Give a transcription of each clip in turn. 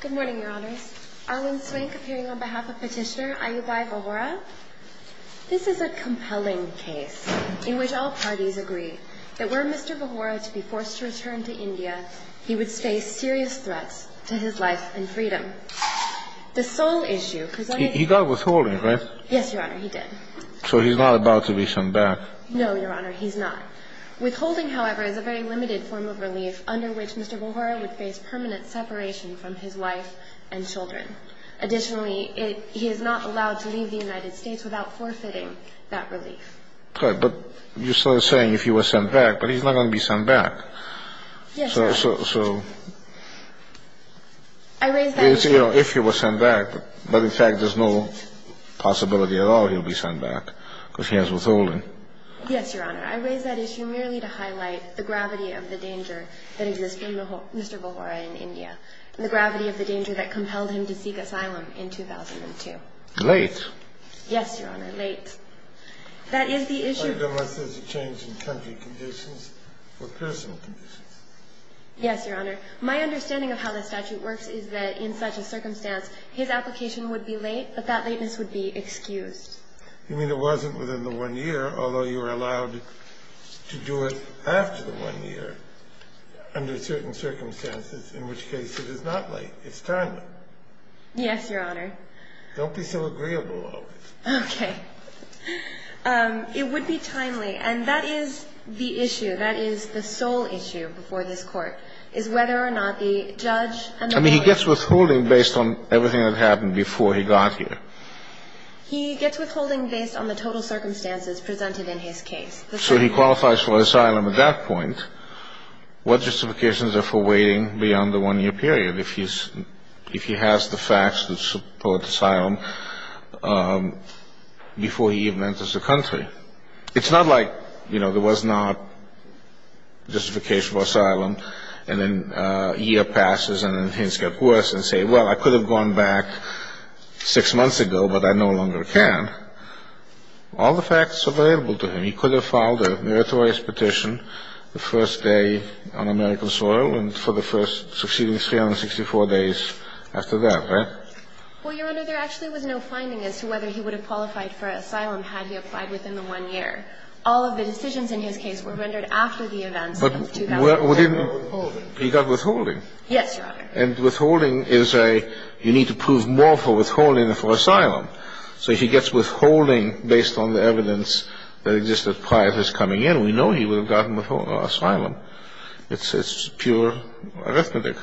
Good morning, Your Honours. Arwin Swank, appearing on behalf of Petitioner Ayubbhai Vahora. This is a compelling case in which all parties agree that were Mr. Vahora to be forced to return to India, he would face serious threats to his life and freedom. The sole issue... He got withholding, right? Yes, Your Honour, he did. So he's not about to be shunned back? No, Your Honour, he's not. Withholding, however, is a very limited form of relief under which Mr. Vahora would face permanent separation from his wife and children. Additionally, he is not allowed to leave the United States without forfeiting that relief. Okay, but you started saying if he was sent back, but he's not going to be sent back. Yes, Your Honour. So... I raised that issue... If he was sent back, but in fact there's no possibility at all he'll be sent back because he has withholding. Yes, Your Honour, I raised that issue merely to highlight the gravity of the danger that exists in Mr. Vahora in India, and the gravity of the danger that compelled him to seek asylum in 2002. Late. Yes, Your Honour, late. That is the issue... Unless there's a change in country conditions or personal conditions. Yes, Your Honour. My understanding of how the statute works is that in such a circumstance, his application would be late, but that lateness would be excused. You mean it wasn't within the one year, although you were allowed to do it after the one year under certain circumstances, in which case it is not late. It's timely. Yes, Your Honour. Don't be so agreeable always. Okay. It would be timely, and that is the issue. That is the sole issue before this Court, is whether or not the judge... I mean, he gets withholding based on everything that happened before he got here. He gets withholding based on the total circumstances presented in his case. So he qualifies for asylum at that point. What justifications are for waiting beyond the one-year period if he has the facts to support asylum before he even enters the country? It's not like, you know, there was not justification for asylum, and then a year passes and things get worse and say, well, I could have gone back six months ago, but I no longer can. All the facts are available to him. He could have filed a meritorious petition the first day on American soil and for the first succeeding 364 days after that, right? Well, Your Honour, there actually was no finding as to whether he would have qualified for asylum had he applied within the one year. All of the decisions in his case were rendered after the events of 2007. He got withholding. He got withholding. Yes, Your Honour. And withholding is a, you need to prove more for withholding than for asylum. So he gets withholding based on the evidence that existed prior to his coming in. We know he would have gotten withholding or asylum. It's pure arithmetic.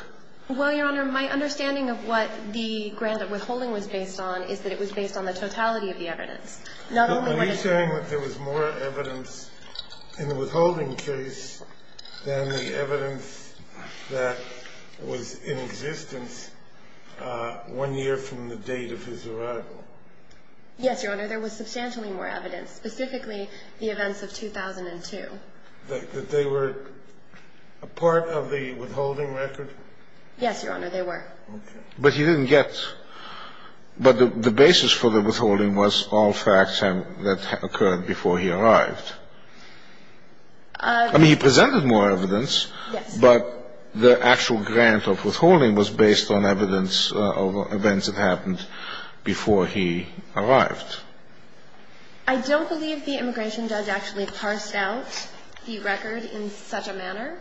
Well, Your Honour, my understanding of what the grant of withholding was based on is that it was based on the totality of the evidence. Are you saying that there was more evidence in the withholding case than the evidence that was in existence one year from the date of his arrival? Yes, Your Honour. There was substantially more evidence, specifically the events of 2002. That they were a part of the withholding record? Yes, Your Honour, they were. Okay. But he didn't get, but the basis for the withholding was all facts that occurred before he arrived. I mean, he presented more evidence. Yes. But the actual grant of withholding was based on evidence of events that happened before he arrived. I don't believe the immigration judge actually parsed out the record in such a manner.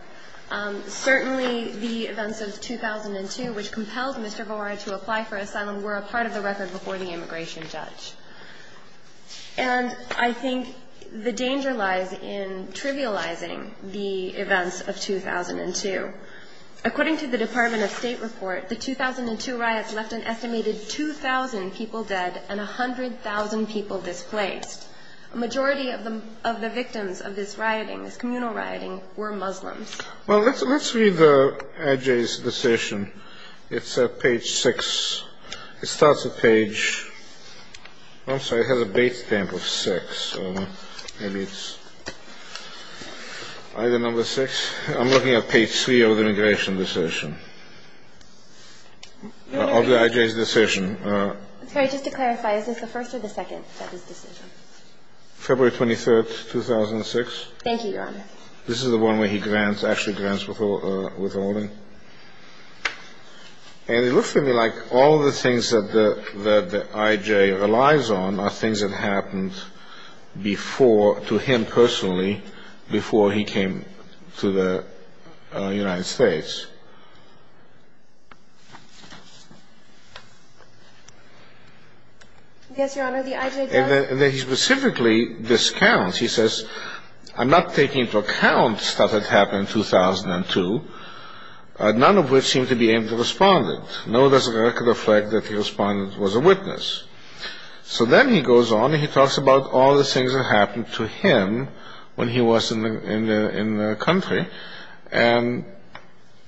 Certainly, the events of 2002, which compelled Mr. Varai to apply for asylum, were a part of the record before the immigration judge. And I think the danger lies in trivializing the events of 2002. According to the Department of State report, the 2002 riots left an estimated 2,000 people dead and 100,000 people displaced. A majority of the victims of this rioting, this communal rioting, were Muslims. Well, let's read the IJ's decision. It's at page 6. It starts at page, I'm sorry, it has a base stamp of 6, so maybe it's either number 6. I'm looking at page 3 of the immigration decision, of the IJ's decision. Sorry, just to clarify, is this the first or the second of his decision? February 23rd, 2006. Thank you, Your Honor. This is the one where he grants, actually grants withholding. And it looks to me like all the things that the IJ relies on are things that happened before, to him personally, before he came to the United States. Yes, Your Honor, the IJ does. And then he specifically discounts. He says, I'm not taking into account stuff that happened in 2002, none of which seem to be aimed at the Respondent. Nor does it reflect that the Respondent was a witness. So then he goes on and he talks about all the things that happened to him when he was in the country. And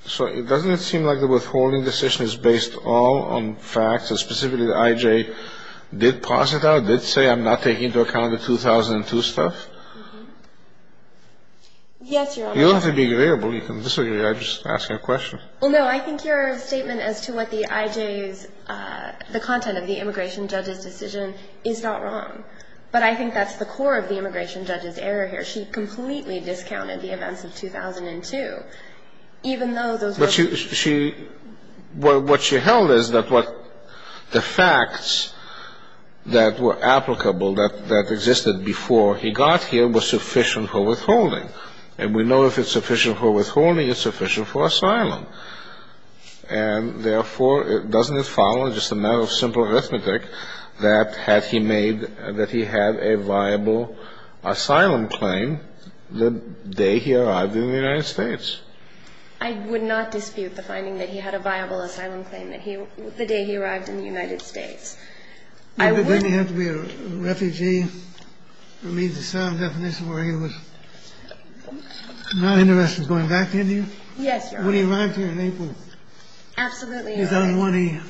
so doesn't it seem like the withholding decision is based all on facts, and specifically the IJ did posit that, did say I'm not taking into account the 2002 stuff? Yes, Your Honor. You don't have to be agreeable. You can disagree. I'm just asking a question. Well, no, I think your statement as to what the IJ's, the content of the immigration judge's decision is not wrong. But I think that's the core of the immigration judge's error here. She completely discounted the events of 2002, even though those were. But what she held is that the facts that were applicable, that existed before he got here, were sufficient for withholding. And we know if it's sufficient for withholding, it's sufficient for asylum. And therefore, doesn't it follow, just a matter of simple arithmetic, that had he made, that he had a viable asylum claim the day he arrived in the United States? I would not dispute the finding that he had a viable asylum claim that he, the day he arrived in the United States. I would. Then he had to be a refugee. It leaves a sound definition where he was not interested in going back to India? Yes, Your Honor. When he arrived here in April. Absolutely, Your Honor.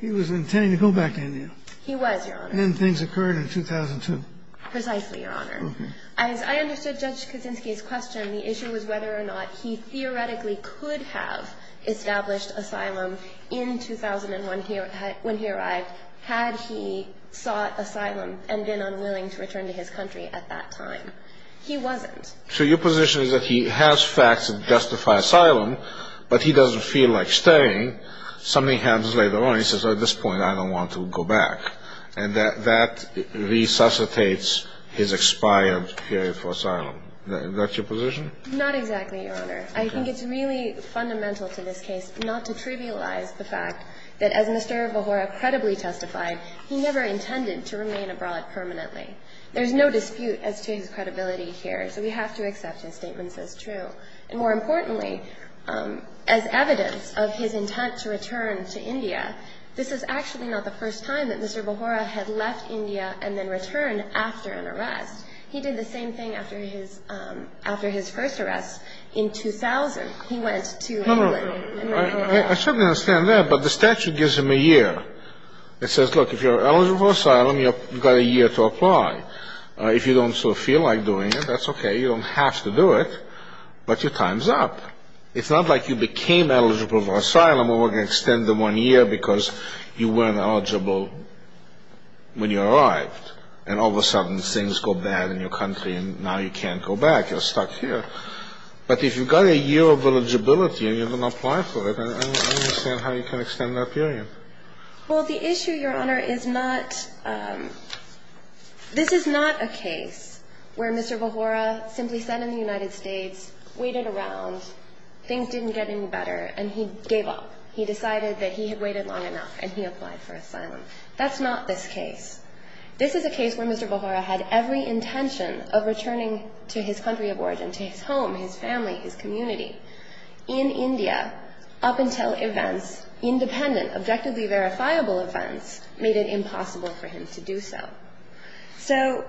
He was intending to go back to India. He was, Your Honor. And then things occurred in 2002. Precisely, Your Honor. Okay. As I understood Judge Kuczynski's question, the issue was whether or not he theoretically could have established asylum in 2001 when he arrived, had he sought asylum and been unwilling to return to his country at that time. He wasn't. So your position is that he has facts that justify asylum, but he doesn't feel like staying. Something happens later on. He says, at this point, I don't want to go back. And that resuscitates his expired period for asylum. Is that your position? Not exactly, Your Honor. I think it's really fundamental to this case not to trivialize the fact that, as Mr. Vohora credibly testified, he never intended to remain abroad permanently. There's no dispute as to his credibility here. So we have to accept his statements as true. And more importantly, as evidence of his intent to return to India, this is actually not the first time that Mr. Vohora had left India and then returned after an arrest. He did the same thing after his first arrest in 2000. He went to England. No, no, no. I certainly understand that, but the statute gives him a year. It says, look, if you're eligible for asylum, you've got a year to apply. If you don't sort of feel like doing it, that's okay. You don't have to do it, but your time's up. It's not like you became eligible for asylum or were going to extend the one year because you weren't eligible when you arrived. And all of a sudden, things go bad in your country, and now you can't go back. You're stuck here. But if you've got a year of eligibility and you're going to apply for it, I understand how you can extend that period. Well, the issue, Your Honor, is not this is not a case where Mr. Vohora simply sat in the United States, waited around, things didn't get any better, and he gave up. He decided that he had waited long enough, and he applied for asylum. That's not this case. This is a case where Mr. Vohora had every intention of returning to his country of origin, to his home, his family, his community. In India, up until events, independent, objectively verifiable events, made it impossible for him to do so. So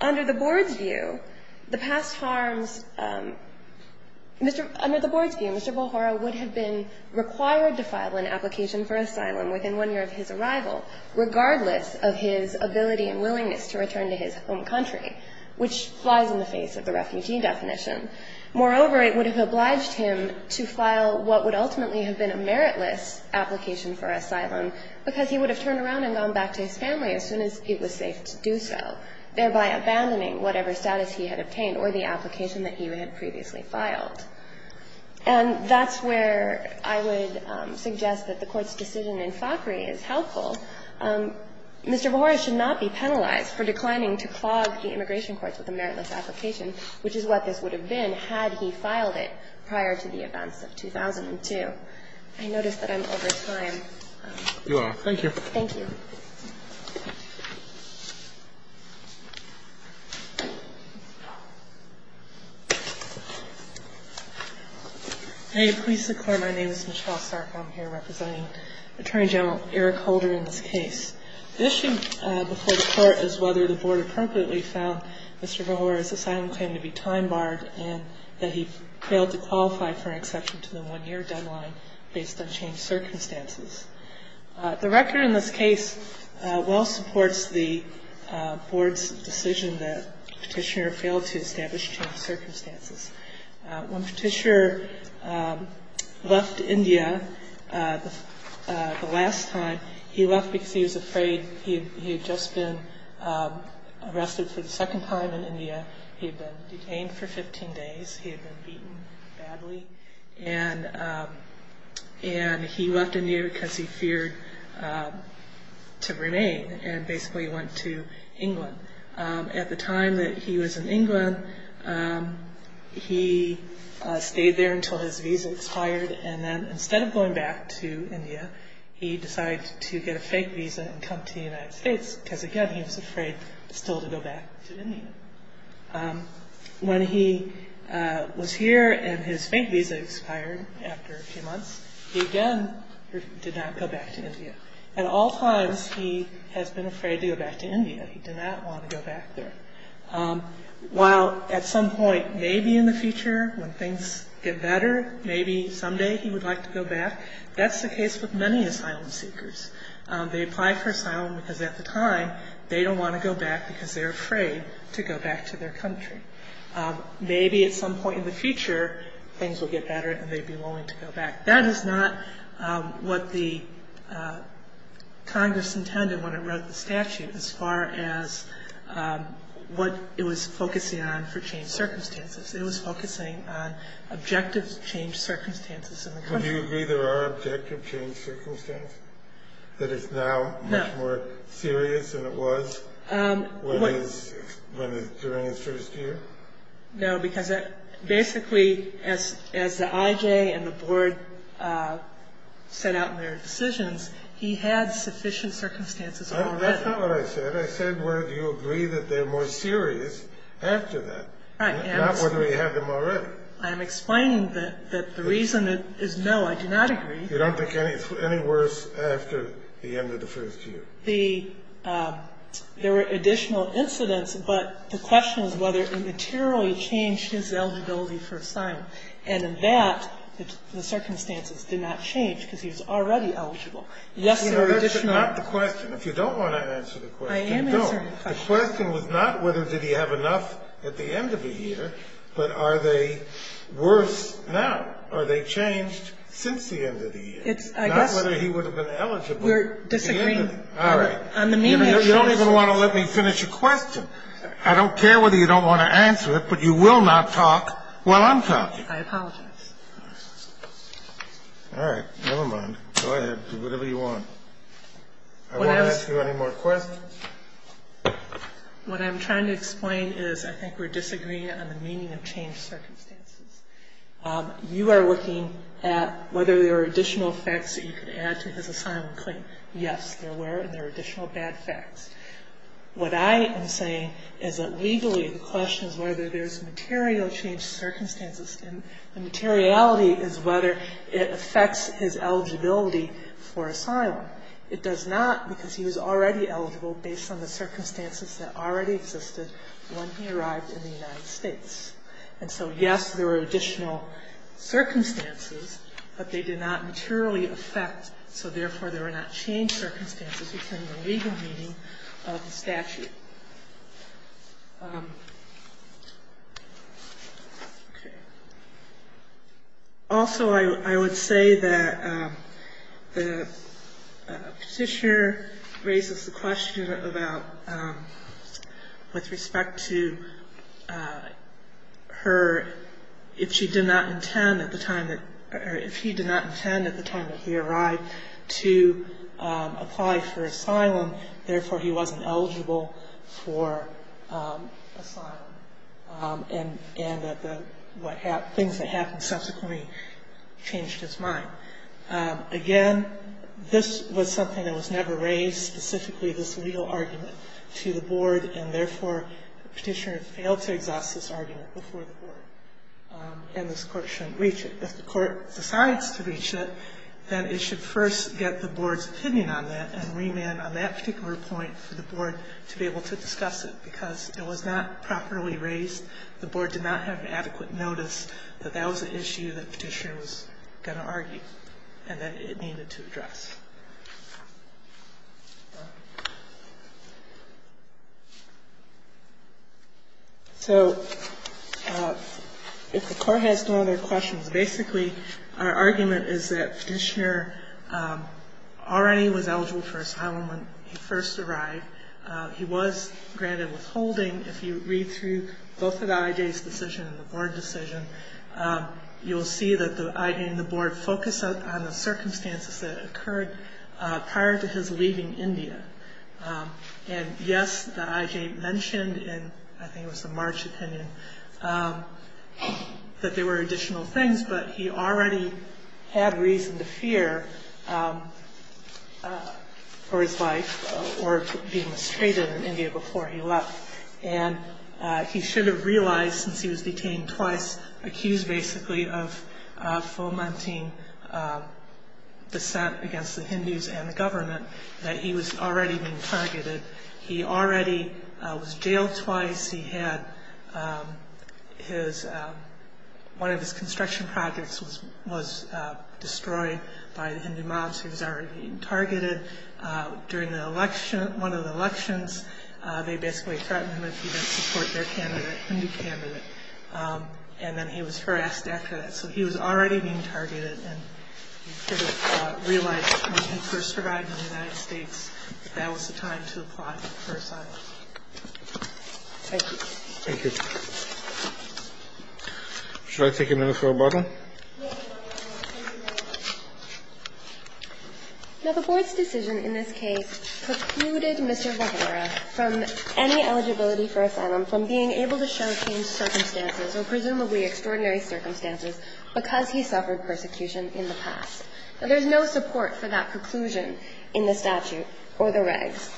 under the Board's view, the past harms, Mr. Under the Board's view, Mr. Vohora would have been required to file an application for asylum within one year of his arrival, regardless of his ability and willingness to return to his home country, which flies in the face of the refugee definition. Moreover, it would have obliged him to file what would ultimately have been a meritless application for asylum, because he would have turned around and gone back to his family as soon as it was safe to do so, thereby abandoning whatever status he had obtained or the application that he had previously filed. And that's where I would suggest that the Court's decision in FACRI is helpful. Mr. Vohora should not be penalized for declining to clog the immigration courts with a meritless application, which is what this would have been had he filed it prior to the events of 2002. I notice that I'm over time. You are. Thank you. Thank you. May it please the Court, my name is Michelle Stark. I'm here representing Attorney General Eric Holder in this case. The issue before the Court is whether the Board appropriately found Mr. Vohora's asylum claim to be time-barred and that he failed to qualify for an exception to the one-year deadline based on changed circumstances. The record in this case well supports the Board's decision that the Petitioner failed to establish changed circumstances. When Petitioner left India the last time, he left because he was afraid. He had just been arrested for the second time in India. He had been detained for 15 days. He had been beaten badly. And he left India because he feared to remain and basically went to England. At the time that he was in England, he stayed there until his visa expired. And then instead of going back to India, he decided to get a fake visa and come to the United States because, again, he was afraid still to go back to India. When he was here and his fake visa expired after a few months, he again did not go back to India. At all times, he has been afraid to go back to India. He did not want to go back there. While at some point maybe in the future when things get better, maybe someday he would like to go back, that's the case with many asylum seekers. They apply for asylum because at the time they don't want to go back because they're afraid to go back to their country. Maybe at some point in the future, things will get better and they'd be willing to go back. That is not what the Congress intended when it wrote the statute as far as what it was focusing on for changed circumstances. It was focusing on objective changed circumstances in the country. Do you agree there are objective changed circumstances? That it's now much more serious than it was during his first year? No, because basically as the IJ and the board set out in their decisions, he had sufficient circumstances already. That's not what I said. I said, well, do you agree that they're more serious after that? Not whether he had them already. I'm explaining that the reason is no, I do not agree. You don't think any worse after the end of the first year? There were additional incidents, but the question is whether it materially changed his eligibility for asylum. And in that, the circumstances did not change because he was already eligible. Yes, there were additional. That's not the question. If you don't want to answer the question, don't. I am answering the question. The question was not whether did he have enough at the end of the year, but are they worse now? Are they changed since the end of the year? Not whether he would have been eligible. We're disagreeing. All right. You don't even want to let me finish a question. I don't care whether you don't want to answer it, but you will not talk while I'm talking. I apologize. All right. Never mind. Go ahead. Do whatever you want. I won't ask you any more questions. What I'm trying to explain is I think we're disagreeing on the meaning of changed circumstances. You are looking at whether there are additional facts that you can add to his asylum claim. Yes, there were, and there are additional bad facts. What I am saying is that legally the question is whether there's material changed circumstances, and the materiality is whether it affects his eligibility for asylum. It does not because he was already eligible based on the circumstances that already existed when he arrived in the United States. And so, yes, there were additional circumstances, but they did not materially affect, so therefore there were not changed circumstances within the legal meaning of the statute. Okay. Also, I would say that the petitioner raises the question about with respect to her, if she did not intend at the time that, or if he did not intend at the time that he arrived to apply for asylum, therefore he wasn't eligible for asylum. And the things that happened subsequently changed his mind. Again, this was something that was never raised, specifically this legal argument to the board, and therefore the petitioner failed to exhaust this argument before the board, and this court shouldn't reach it. If the court decides to reach it, then it should first get the board's opinion on that and remand on that particular point for the board to be able to discuss it, because it was not properly raised. The board did not have adequate notice that that was an issue that the petitioner was going to argue and that it needed to address. So if the court has no other questions, basically our argument is that petitioner already was eligible for asylum when he first arrived. He was granted withholding. If you read through both of the IJ's decision and the board decision, you will see that the IJ and the board focused on the circumstances that occurred prior to his leaving India. And yes, the IJ mentioned in, I think it was the March opinion, that there were additional things, but he already had reason to fear for his life or being mistreated in India before he left. And he should have realized, since he was detained twice, accused basically of fomenting dissent against the Hindus and the government, that he was already being targeted. He already was jailed twice. One of his construction projects was destroyed by the Hindu mobs. He was already being targeted. During one of the elections, they basically threatened him if he didn't support their Hindu candidate. And then he was harassed after that. So he was already being targeted, and he should have realized when he first arrived in the United States that that was the time to apply for asylum. Thank you. Thank you. Should I take a minute for rebuttal? No, the board's decision in this case precluded Mr. Vajendra from any eligibility for asylum, from being able to show changed circumstances, or presumably extraordinary circumstances, because he suffered persecution in the past. There's no support for that conclusion in the statute or the regs.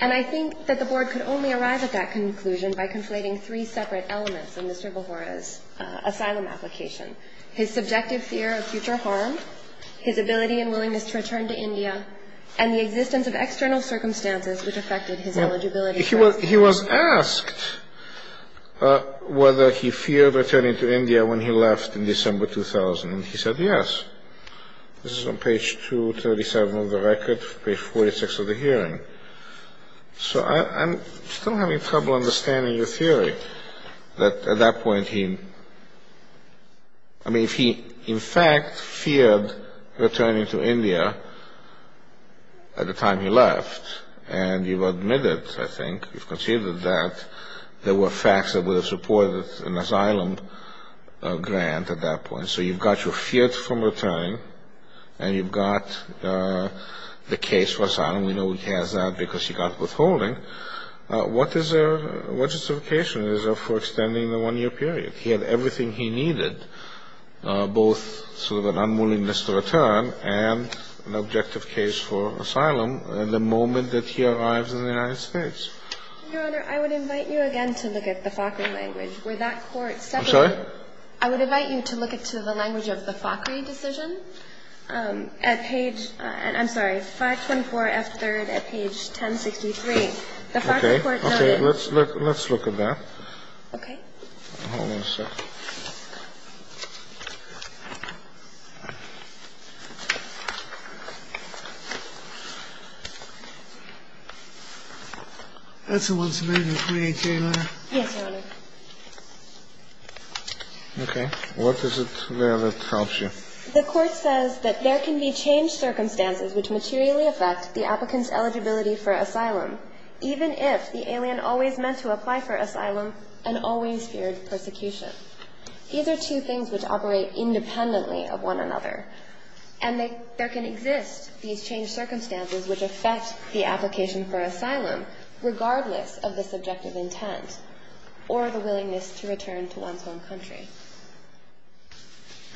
And I think that the board could only arrive at that conclusion by conflating three separate elements in Mr. Bahura's asylum application, his subjective fear of future harm, his ability and willingness to return to India, and the existence of external circumstances which affected his eligibility. He was asked whether he feared returning to India when he left in December 2000, and he said yes. This is on page 237 of the record, page 46 of the hearing. So I'm still having trouble understanding your theory that at that point he – I mean, if he in fact feared returning to India at the time he left, and you've admitted, I think, you've conceded that there were facts that would have supported an asylum grant at that point, so you've got your fear from returning, and you've got the case for asylum. We know he has that because he got withholding. What justification is there for extending the one-year period? He had everything he needed, both sort of an unwillingness to return and an objective case for asylum. And the moment that he arrives in the United States – Your Honor, I would invite you again to look at the FACRI language, where that court – I'm sorry? I would invite you to look into the language of the FACRI decision at page – I'm sorry, 524F3rd at page 1063. The FACRI court noted – Okay. Let's look at that. Okay. Hold on a second. That's the one submitted in the 318 letter. Yes, Your Honor. Okay. What is it there that helps you? The court says that there can be changed circumstances which materially affect the applicant's eligibility for asylum, even if the alien always meant to apply for asylum and always feared persecution. These are two things which operate independently of one another. And there can exist these changed circumstances which affect the application for asylum, regardless of the subjective intent or the willingness to return to one's home country.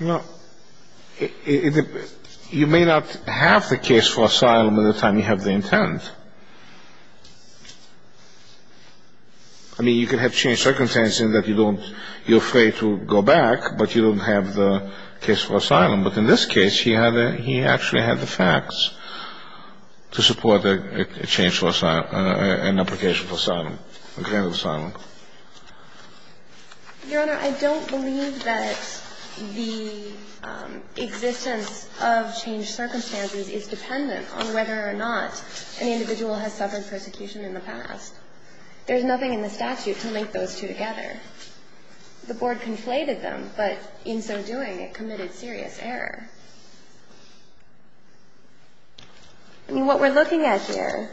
No. You may not have the case for asylum at the time you have the intent. I mean, you can have changed circumstances in that you don't – you're afraid to go back, but you don't have the case for asylum. But in this case, he actually had the facts to support a change for asylum – an application for asylum, a grant of asylum. Your Honor, I don't believe that the existence of changed circumstances is dependent on whether or not an individual has suffered persecution in the past. There's nothing in the statute to link those two together. The Board conflated them, but in so doing, it committed serious error. I mean, what we're looking at here,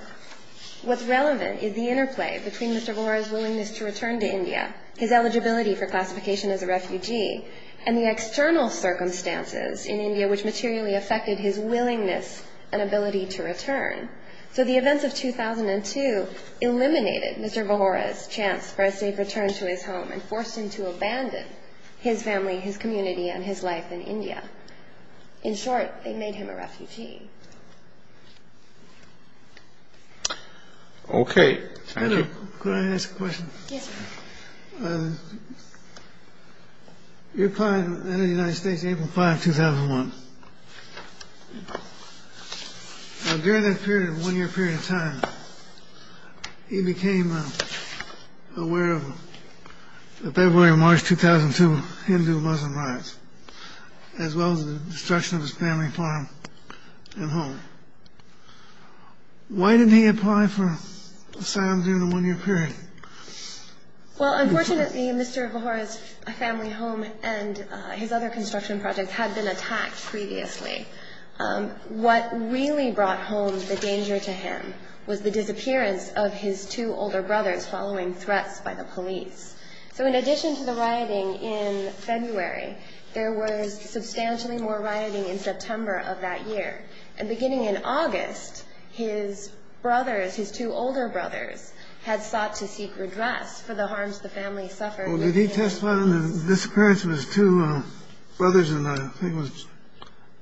what's relevant is the interplay between Mr. Bahura's ability to return to India, his eligibility for classification as a refugee, and the external circumstances in India which materially affected his willingness and ability to return. So the events of 2002 eliminated Mr. Bahura's chance for a safe return to his home and forced him to abandon his family, his community, and his life in India. In short, they made him a refugee. Okay. Thank you. Could I ask a question? Yes, sir. Your client entered the United States April 5, 2001. During that period, one-year period of time, he became aware of the February and March 2002 Hindu-Muslim riots, as well as the destruction of his family farm and home. Why didn't he apply for asylum during the one-year period? Well, unfortunately, Mr. Bahura's family home and his other construction projects had been attacked previously. What really brought home the danger to him was the disappearance of his two older brothers following threats by the police. So in addition to the rioting in February, there was substantially more rioting in September of that year. And beginning in August, his brothers, his two older brothers, had sought to seek redress for the harms the family suffered. Well, did he testify on the disappearance of his two brothers in August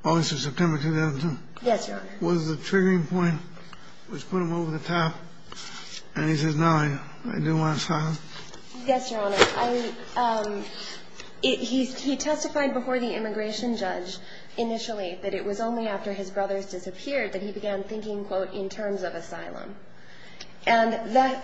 or September 2002? Yes, Your Honor. Was the triggering point which put him over the top? And he says, no, I didn't want asylum? Yes, Your Honor. He testified before the immigration judge initially that it was only after his brothers disappeared that he began thinking, quote, in terms of asylum. And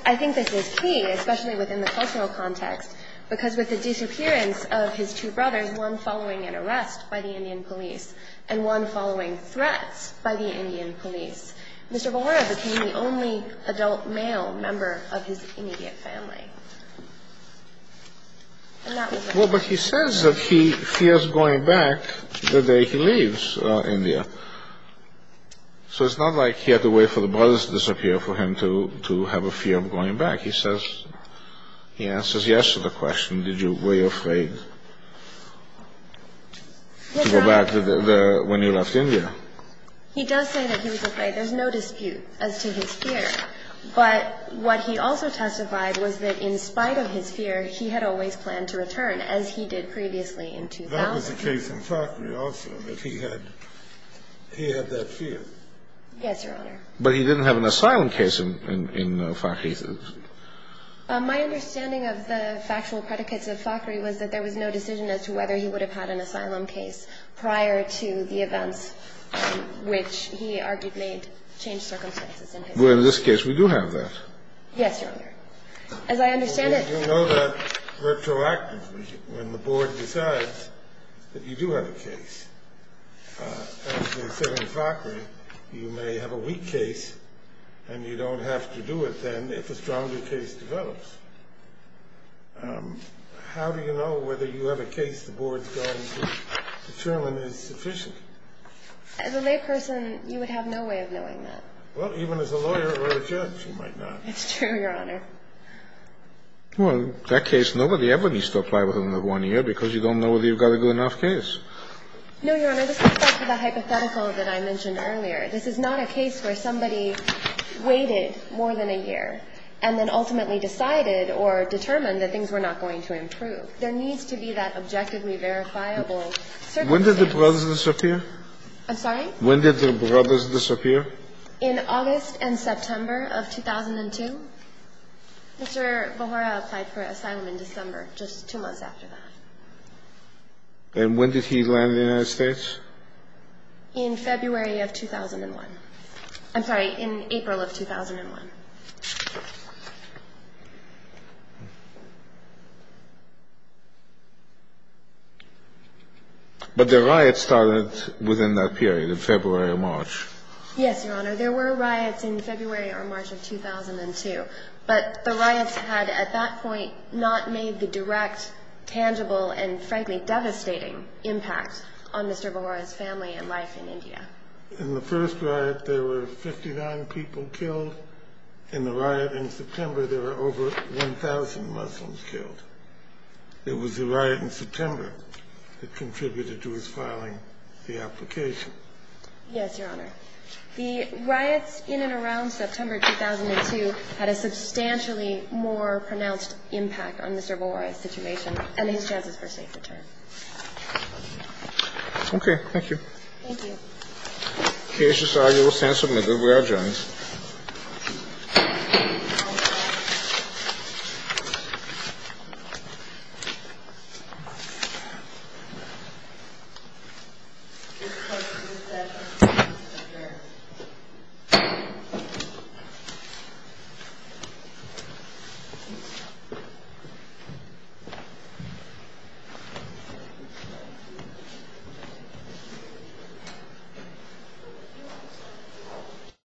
I think this is key, especially within the cultural context, because with the disappearance of his two brothers, one following an arrest by the Indian police and one following threats by the Indian police, Mr. Bharara became the only adult male member of his immediate family. Well, but he says that he fears going back the day he leaves India. So it's not like he had to wait for the brothers to disappear for him to have a fear of going back. He answers yes to the question, were you afraid to go back when you left India? He does say that he was afraid. There's no dispute as to his fear. But what he also testified was that in spite of his fear, he had always planned to return, as he did previously in 2000. That was the case in Fakhri also, that he had that fear. Yes, Your Honor. But he didn't have an asylum case in Fakhri. My understanding of the factual predicates of Fakhri was that there was no decision as to whether he would have had an asylum case prior to the events which he argued may have changed circumstances. Well, in this case, we do have that. Yes, Your Honor. As I understand it. You know that retroactively when the board decides that you do have a case. As they say in Fakhri, you may have a weak case and you don't have to do it then if a stronger case develops. How do you know whether you have a case the board's going to determine is sufficient? As a layperson, you would have no way of knowing that. Well, even as a lawyer or a judge, you might not. It's true, Your Honor. Well, that case, nobody ever needs to apply within the one year because you don't know whether you've got a good enough case. No, Your Honor. This goes back to the hypothetical that I mentioned earlier. This is not a case where somebody waited more than a year and then ultimately decided or determined that things were not going to improve. There needs to be that objectively verifiable certainty. When did the brothers disappear? I'm sorry? When did the brothers disappear? In August and September of 2002. Mr. Bahura applied for asylum in December, just two months after that. And when did he land in the United States? In February of 2001. I'm sorry, in April of 2001. But the riots started within that period of February or March. Yes, Your Honor. There were riots in February or March of 2002. But the riots had at that point not made the direct, tangible, and frankly devastating impact on Mr. Bahura's family and life in India. In the first riot, there were 59 people killed. In the riot in September, there were over 1,000 Muslims killed. It was the riot in September that contributed to his filing the application. Yes, Your Honor. The riots in and around September 2002 had a substantially more pronounced impact on Mr. Bahura's situation and his chances for a safe return. Okay. Thank you. Thank you. The case is argued with sense of middle ground, Your Honor. Thank you.